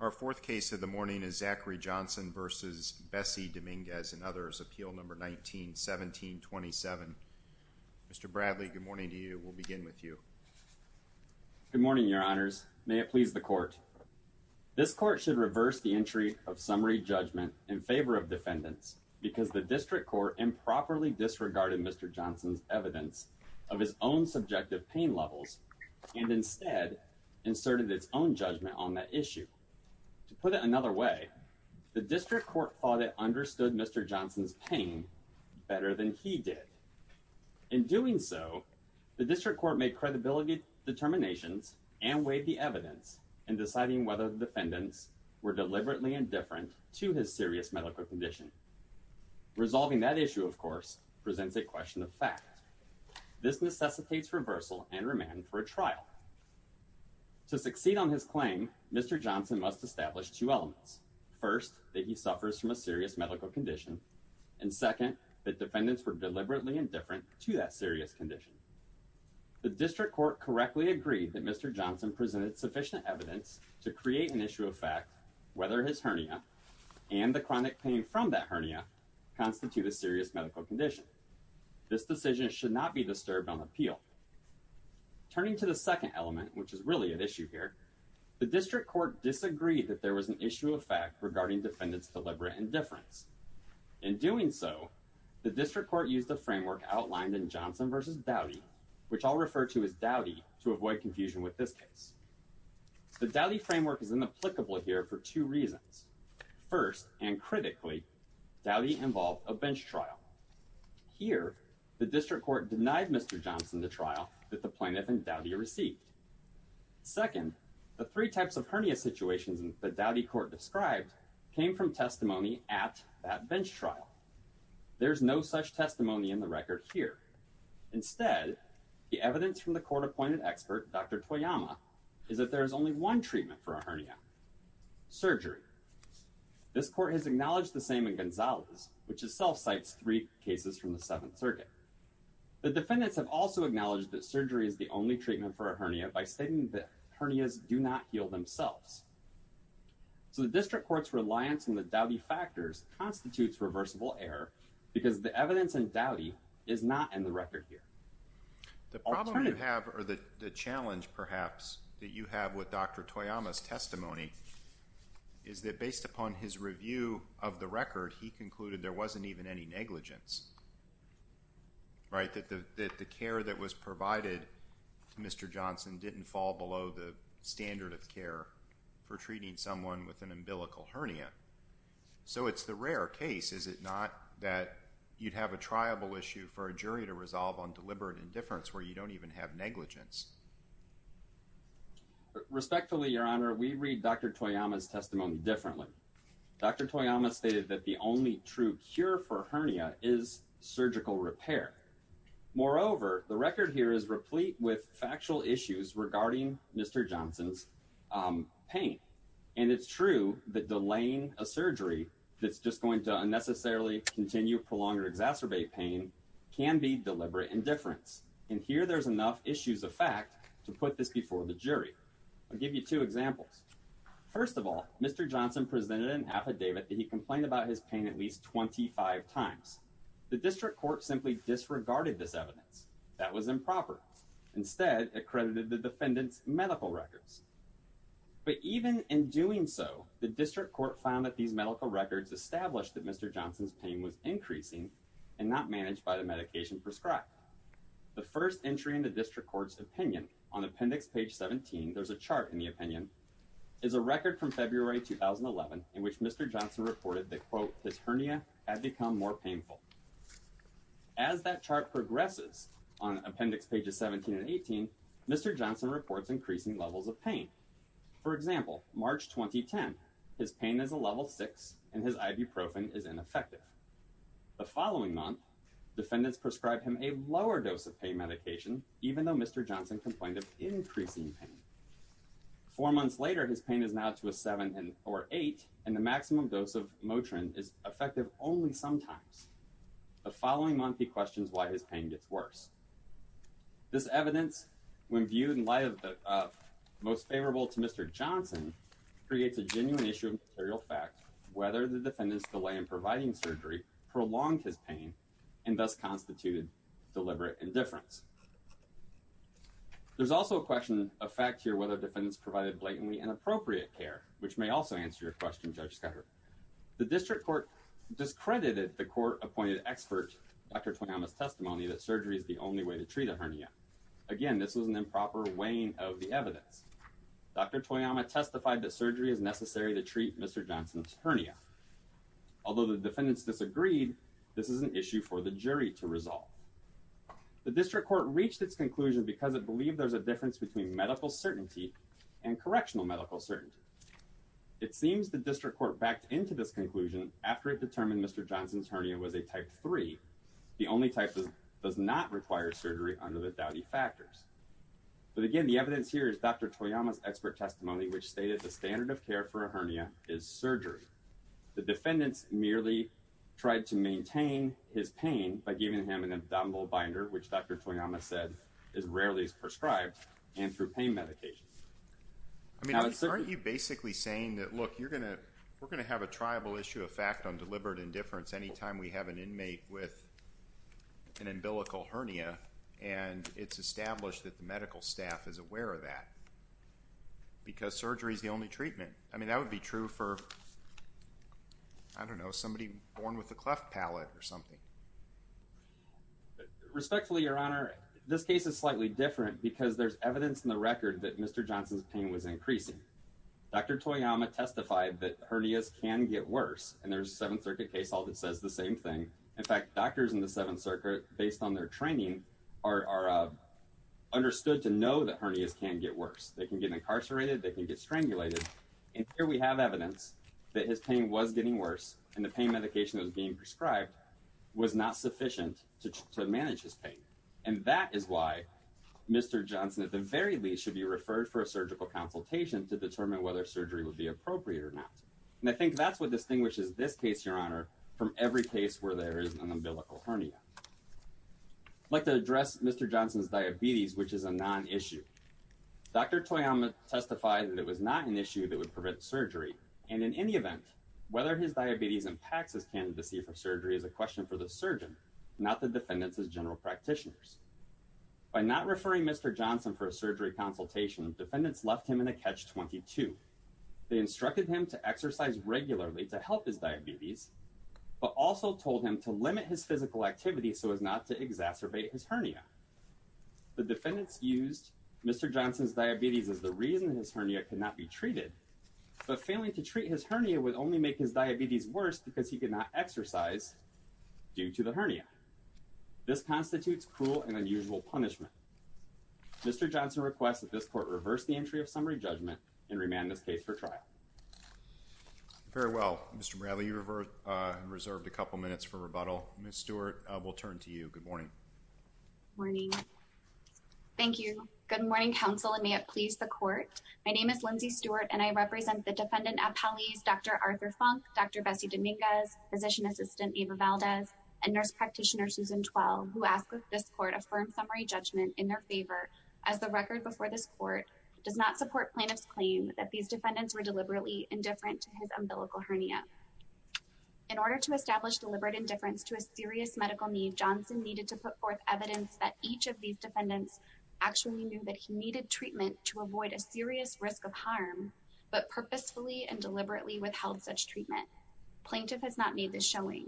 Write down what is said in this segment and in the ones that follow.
Our fourth case of the morning is Zachary Johnson versus Bessie Dominguez and others. Appeal number 19-17-27. Mr. Bradley, good morning to you. We'll begin with you. Good morning, your honors. May it please the court. This court should reverse the entry of summary judgment in favor of defendants because the district court improperly disregarded Mr. Johnson's evidence of his own subjective pain levels and instead inserted its own judgment on that issue. To put it another way, the district court thought it understood Mr. Johnson's pain better than he did. In doing so, the district court made credibility determinations and weighed the evidence in deciding whether the defendants were deliberately indifferent to his serious medical condition. Resolving that issue, of course, presents a question of fact. This necessitates reversal and remand for a trial. To succeed on his claim, Mr. Johnson must establish two elements. First, that he suffers from a serious medical condition, and second, that defendants were deliberately indifferent to that serious condition. The district court correctly agreed that Mr. Johnson presented sufficient evidence to create an issue of fact whether his hernia and the chronic pain from that hernia constitute a serious medical condition. This decision should not be disturbed on appeal. Turning to the second element, which is really an issue here, the district court disagreed that there was an issue of fact regarding defendants' deliberate indifference. In doing so, the district court used the framework outlined in Johnson v. Dowdy, which I'll refer to as Dowdy to avoid confusion with this case. The Dowdy framework is applicable here for two reasons. First, and critically, Dowdy involved a bench trial. Here, the district court denied Mr. Johnson the trial that the plaintiff and Dowdy received. Second, the three types of hernia situations that Dowdy court described came from testimony at that bench trial. There's no such testimony in the record here. Instead, the evidence from the surgery. This court has acknowledged the same in Gonzalez, which itself cites three cases from the Seventh Circuit. The defendants have also acknowledged that surgery is the only treatment for a hernia by stating that hernias do not heal themselves. So the district court's reliance on the Dowdy factors constitutes reversible error because the evidence in Dowdy is not in the record here. The problem you have, or the challenge perhaps, that you have with Dr. Toyama's testimony is that based upon his review of the record, he concluded there wasn't even any negligence. Right? That the care that was provided to Mr. Johnson didn't fall below the standard of care for treating someone with an umbilical hernia. So it's the rare case, is it not, that you'd have a triable issue for a jury to resolve on deliberate indifference where you don't even have negligence? Respectfully, Your Honor, we read Dr. Toyama's testimony differently. Dr. Toyama stated that the only true cure for hernia is surgical repair. Moreover, the record here is replete with factual issues regarding Mr. Johnson's pain. And it's true that delaying surgery that's just going to unnecessarily continue, prolong, or exacerbate pain can be deliberate indifference. And here there's enough issues of fact to put this before the jury. I'll give you two examples. First of all, Mr. Johnson presented an affidavit that he complained about his pain at least 25 times. The district court simply disregarded this evidence. That was improper. Instead, it credited the defendant's medical records. But even in doing so, the medical records established that Mr. Johnson's pain was increasing and not managed by the medication prescribed. The first entry in the district court's opinion on appendix page 17, there's a chart in the opinion, is a record from February 2011 in which Mr. Johnson reported that, quote, his hernia had become more painful. As that chart progresses on appendix pages 17 and 18, Mr. Johnson reports increasing levels of pain. For example, March 2010, his pain is a level 6 and his ibuprofen is ineffective. The following month, defendants prescribed him a lower dose of pain medication, even though Mr. Johnson complained of increasing pain. Four months later, his pain is now to a 7 or 8, and the maximum dose of Motrin is effective only sometimes. The following month, he questions why his pain gets worse. This evidence, when viewed in light of the most favorable to Mr. Johnson, creates a genuine issue of material fact, whether the defendant's delay in providing surgery prolonged his pain and thus constituted deliberate indifference. There's also a question of fact here whether defendants provided blatantly inappropriate care, which may also answer your question, Judge Scudder. The district court discredited the court-appointed expert, Dr. Toyama's testimony that surgery is the only way to treat a hernia. Again, this was an improper weighing of the evidence. Dr. Toyama testified that surgery is necessary to treat Mr. Johnson's hernia. Although the defendants disagreed, this is an issue for the jury to resolve. The district court reached its conclusion because it believed there's a difference between medical certainty. It seems the district court backed into this conclusion after it determined Mr. Johnson's hernia was a type 3. The only type that does not require surgery under the Dowdy factors. But again, the evidence here is Dr. Toyama's expert testimony, which stated the standard of care for a hernia is surgery. The defendants merely tried to maintain his pain by giving him an abdominal binder, which Dr. Toyama said is rarely prescribed, and through pain medication. I mean, aren't you basically saying that, look, you're going to, we're going to have a triable issue of fact on deliberate indifference anytime we have an inmate with an umbilical hernia, and it's established that the medical staff is aware of that because surgery is the only treatment. I mean, that would be true for, I don't know, somebody born with a cleft palate or something. Respectfully, Your Honor, this case is slightly different because there's evidence in the record that Mr. Johnson's pain was increasing. Dr. Toyama testified that hernias can get worse, and there's a Seventh Circuit case all that says the same thing. In fact, doctors in the Seventh Circuit, based on their training, are understood to know that hernias can get worse. They can get incarcerated, they can get strangulated, and here we have evidence that his pain was getting worse, and the pain medication that was being prescribed was not sufficient to manage his pain. And that is why Mr. Johnson, at the very least, should be referred for a surgical consultation to determine whether surgery would be appropriate or not. And I think that's what distinguishes this case, Your Honor, from every case where there is an umbilical hernia. I'd like to address Mr. Johnson's diabetes, which is a non-issue. Dr. Toyama testified that it was not an issue that would prevent surgery, and in any event, whether his diabetes impacts his candidacy for surgery is a question for the surgeon, not the defendant's general practitioners. By not referring Mr. Johnson for a surgery consultation, defendants left him in a catch-22. They instructed him to exercise regularly to help his diabetes, but also told him to limit his physical activity so as not to exacerbate his hernia. The defendants used Mr. Johnson's diabetes as the reason his hernia could not be treated, but failing to treat his hernia would only make his diabetes worse because he could not exercise due to the hernia. This constitutes cruel and unusual punishment. Mr. Johnson requests that this court reverse the entry of summary judgment and remand this case for trial. Very well. Mr. Bradley, you reserved a couple minutes for rebuttal. Ms. Stewart, we'll turn to you. Good morning. Morning. Thank you. Good morning, counsel, and may it please the court. My name is Lindsay Stewart, and I represent the defendant at Paliz, Dr. Arthur Funk, Dr. Bessie Dominguez, physician assistant Ava Valdez, and nurse practitioner Susan Twell, who ask that this court affirm summary judgment in their favor as the record before this court does not support plaintiff's claim that these defendants were deliberately indifferent to his umbilical hernia. In order to establish deliberate indifference to a serious medical need, Johnson needed to put forth evidence that each of these defendants actually knew that he needed treatment to avoid a serious risk of harm, but purposefully and deliberately withheld such treatment. Plaintiff has not made this showing.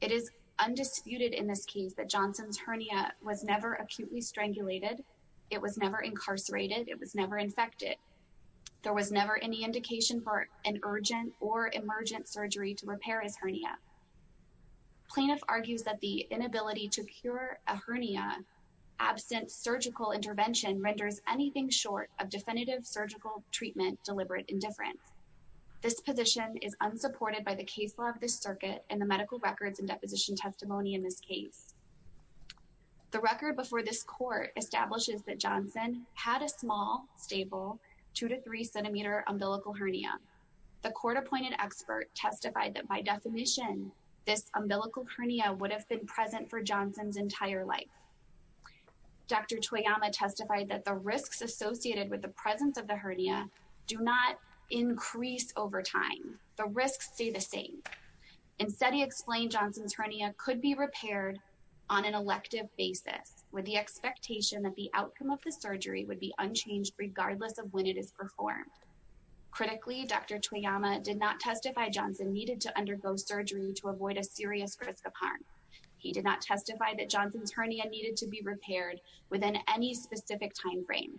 It is undisputed in this case that Johnson's hernia was never acutely strangulated. It was never incarcerated. It was never infected. There was never any indication for an urgent or emergent surgery to repair his hernia. Plaintiff argues that the inability to cure a hernia absent surgical intervention renders anything short of definitive surgical treatment deliberate indifference. This position is unsupported by the case law of this circuit and the medical records and deposition testimony in this case. The record before this court establishes that Johnson had a small, stable, two to three This umbilical hernia would have been present for Johnson's entire life. Dr. Toyama testified that the risks associated with the presence of the hernia do not increase over time. The risks stay the same. Instead, he explained Johnson's hernia could be repaired on an elective basis with the expectation that the outcome of the surgery would be unchanged regardless of when it is performed. Critically, Dr. Toyama did not testify Johnson needed to undergo surgery to avoid a serious risk of harm. He did not testify that Johnson's hernia needed to be repaired within any specific time frame.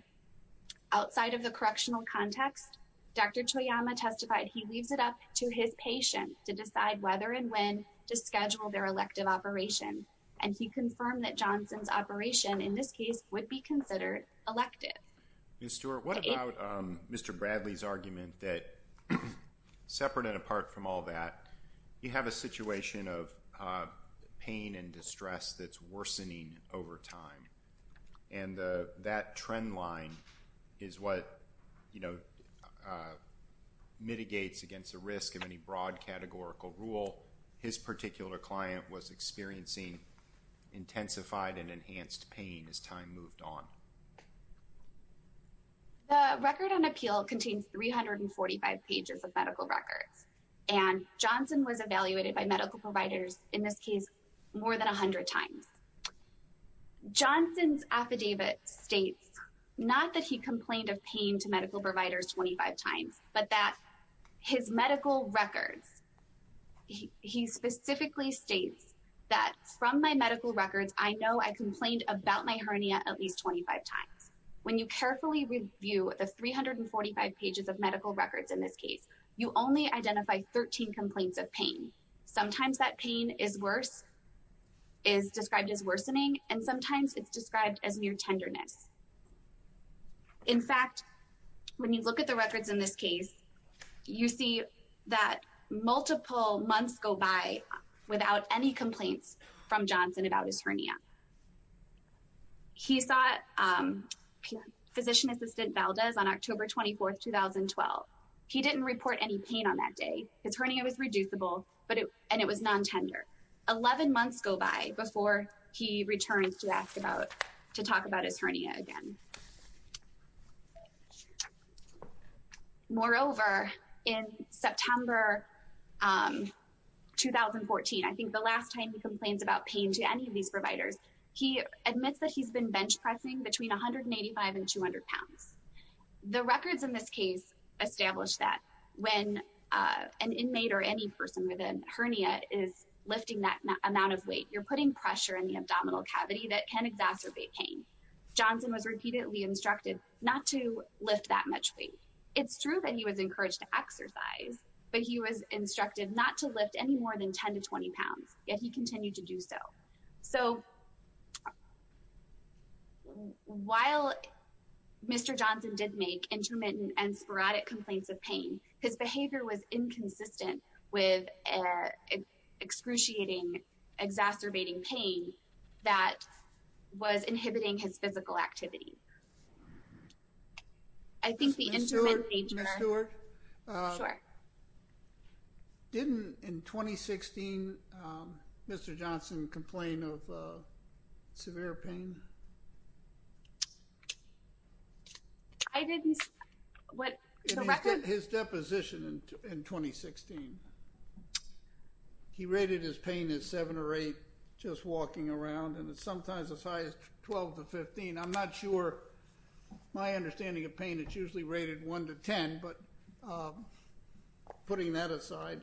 Outside of the correctional context, Dr. Toyama testified he leaves it up to his patient to decide whether and when to schedule their elective operation and he confirmed that Johnson's operation in this case would be considered elective. Ms. Stewart, what about Mr. Bradley's argument that, separate and apart from all that, you have a situation of pain and distress that's worsening over time and that trend line is what mitigates against the risk of any broad categorical rule. His particular client was experiencing intensified and enhanced pain as time moved on. The record on appeal contains 345 pages of medical records and Johnson was evaluated by medical providers in this case more than 100 times. Johnson's affidavit states not that he complained of pain to medical providers 25 times but that his medical records, he specifically states that from my medical records, I know I complained about my hernia at least 25 times. When you carefully review the 345 pages of medical records in this case, you only identify 13 complaints of pain. Sometimes that pain is worse, is described as worsening, and sometimes it's described as mere tenderness. In fact, when you look at the records in this case, you see that any complaints from Johnson about his hernia. He saw Physician Assistant Valdez on October 24, 2012. He didn't report any pain on that day. His hernia was reducible and it was non-tender. 11 months go by before he returns to talk about his hernia again. Moreover, in September 2014, I think the last time he complains about pain to any of these providers, he admits that he's been bench pressing between 185 and 200 pounds. The records in this case establish that when an inmate or any person with a hernia is lifting that amount of weight, you're putting pressure in the abdominal cavity that can exacerbate pain. Johnson was repeatedly instructed not to lift that much weight. It's true that he was encouraged to exercise, but he was instructed not to lift any more than 10 to 20 pounds, yet he continued to do so. So, while Mr. Johnson did make intermittent and sporadic complaints of pain, his behavior was inconsistent with excruciating, exacerbating pain that was inhibiting his physical activity. I think the intermittent... Ms. Stewart, didn't, in 2016, Mr. Johnson complain of severe pain? I didn't... His deposition in 2016, he rated his pain as seven or eight, just walking around, and it's sometimes as high as 12 to 15. I'm not sure, my understanding of pain, it's usually rated one to 10, but putting that aside,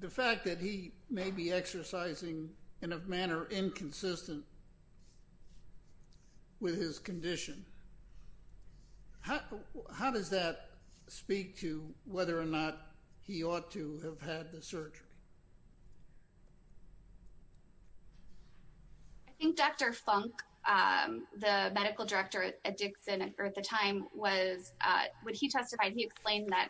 the fact that he may be exercising in a manner inconsistent with his condition, how does that speak to whether or not he ought to have had the surgery? I think Dr. Funk, the medical director at Dixon at the time, when he testified, he explained that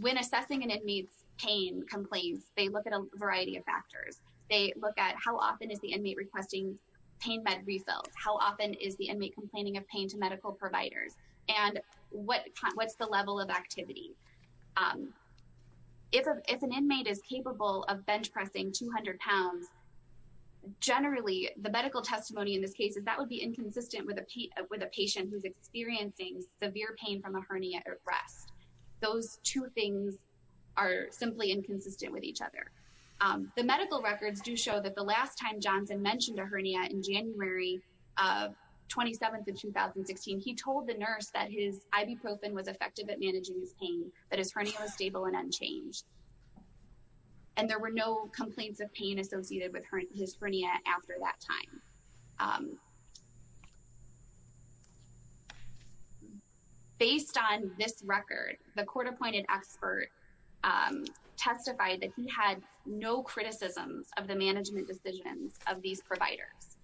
when assessing an inmate's pain complaints, they look at a variety of factors. They look at how often is the inmate requesting pain med refills, how often is the inmate complaining of pain to medical providers, and what's the level of activity. If an inmate is capable of bench generally, the medical testimony in this case is that would be inconsistent with a patient who's experiencing severe pain from a hernia at rest. Those two things are simply inconsistent with each other. The medical records do show that the last time Johnson mentioned a hernia in January 27th of 2016, he told the nurse that his ibuprofen was effective at managing his pain, that his hernia was stable and unchanged, and there were no complaints of pain associated with his hernia after that time. Based on this record, the court-appointed expert testified that he had no criticisms of the management decisions of these providers.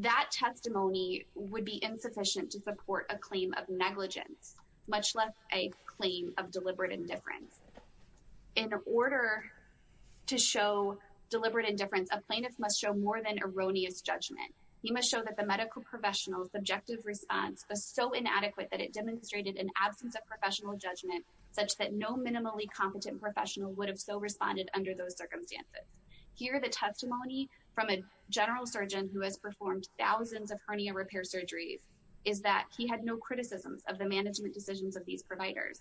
That testimony would be insufficient to support a claim of negligence, much less a claim of deliberate indifference. In order to show deliberate indifference, a plaintiff must show more than erroneous judgment. He must show that the medical professional's objective response was so inadequate that it demonstrated an absence of professional judgment such that no minimally competent professional would have so responded under those circumstances. Here, the testimony from a general surgeon who has performed thousands of hernia repair surgeries is that he had no criticisms of the management decisions of these providers.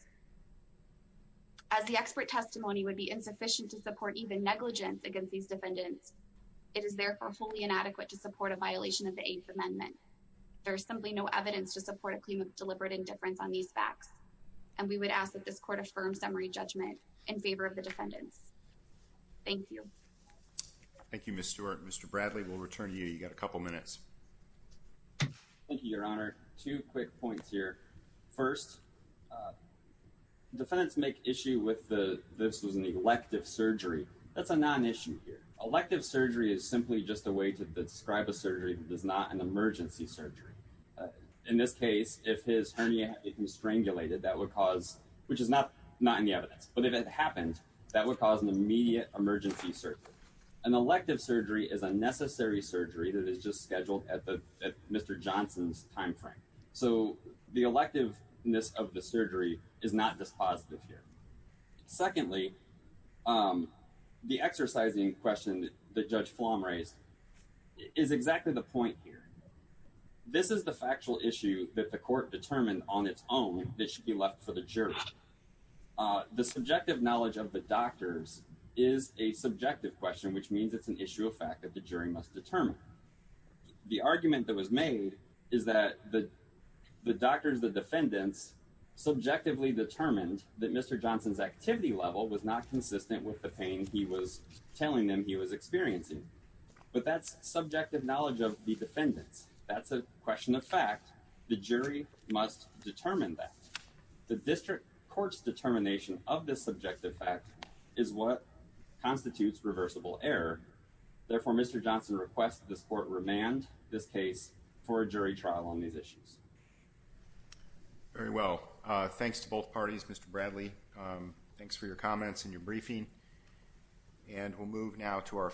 As the expert testimony would be insufficient to support even negligence against these defendants, it is therefore wholly inadequate to support a violation of the Eighth Amendment. There is simply no evidence to support a claim of deliberate indifference on these facts, and we would ask that this court affirm summary judgment in favor of the defendants. Thank you. Thank you, Ms. Stewart. Mr. Bradley, we'll return to you. You got a couple minutes. Thank you, Your Honor. Two quick points here. First, defendants make issue with the this was an elective surgery. That's a non-issue here. Elective surgery is simply just a way to describe a surgery that is not an emergency surgery. In this case, if his hernia had been strangulated, that would cause, which is not not in the evidence, but if it happened, that would immediate emergency surgery. An elective surgery is a necessary surgery that is just scheduled at Mr. Johnson's time frame. So the electiveness of the surgery is not dispositive here. Secondly, the exercising question that Judge Flom raised is exactly the point here. This is the factual issue that the court determined on its own that should be left for the jury. The subjective knowledge of the doctors is a subjective question, which means it's an issue of fact that the jury must determine. The argument that was made is that the doctors, the defendants, subjectively determined that Mr. Johnson's activity level was not consistent with the pain he was telling them he was experiencing. But that's subjective knowledge of the defendants. That's question of fact. The jury must determine that. The district court's determination of this subjective fact is what constitutes reversible error. Therefore, Mr. Johnson requests this court remand this case for a jury trial on these issues. Very well. Thanks to both parties, Mr. Bradley. Thanks for your comments and your briefing. And we'll move now to our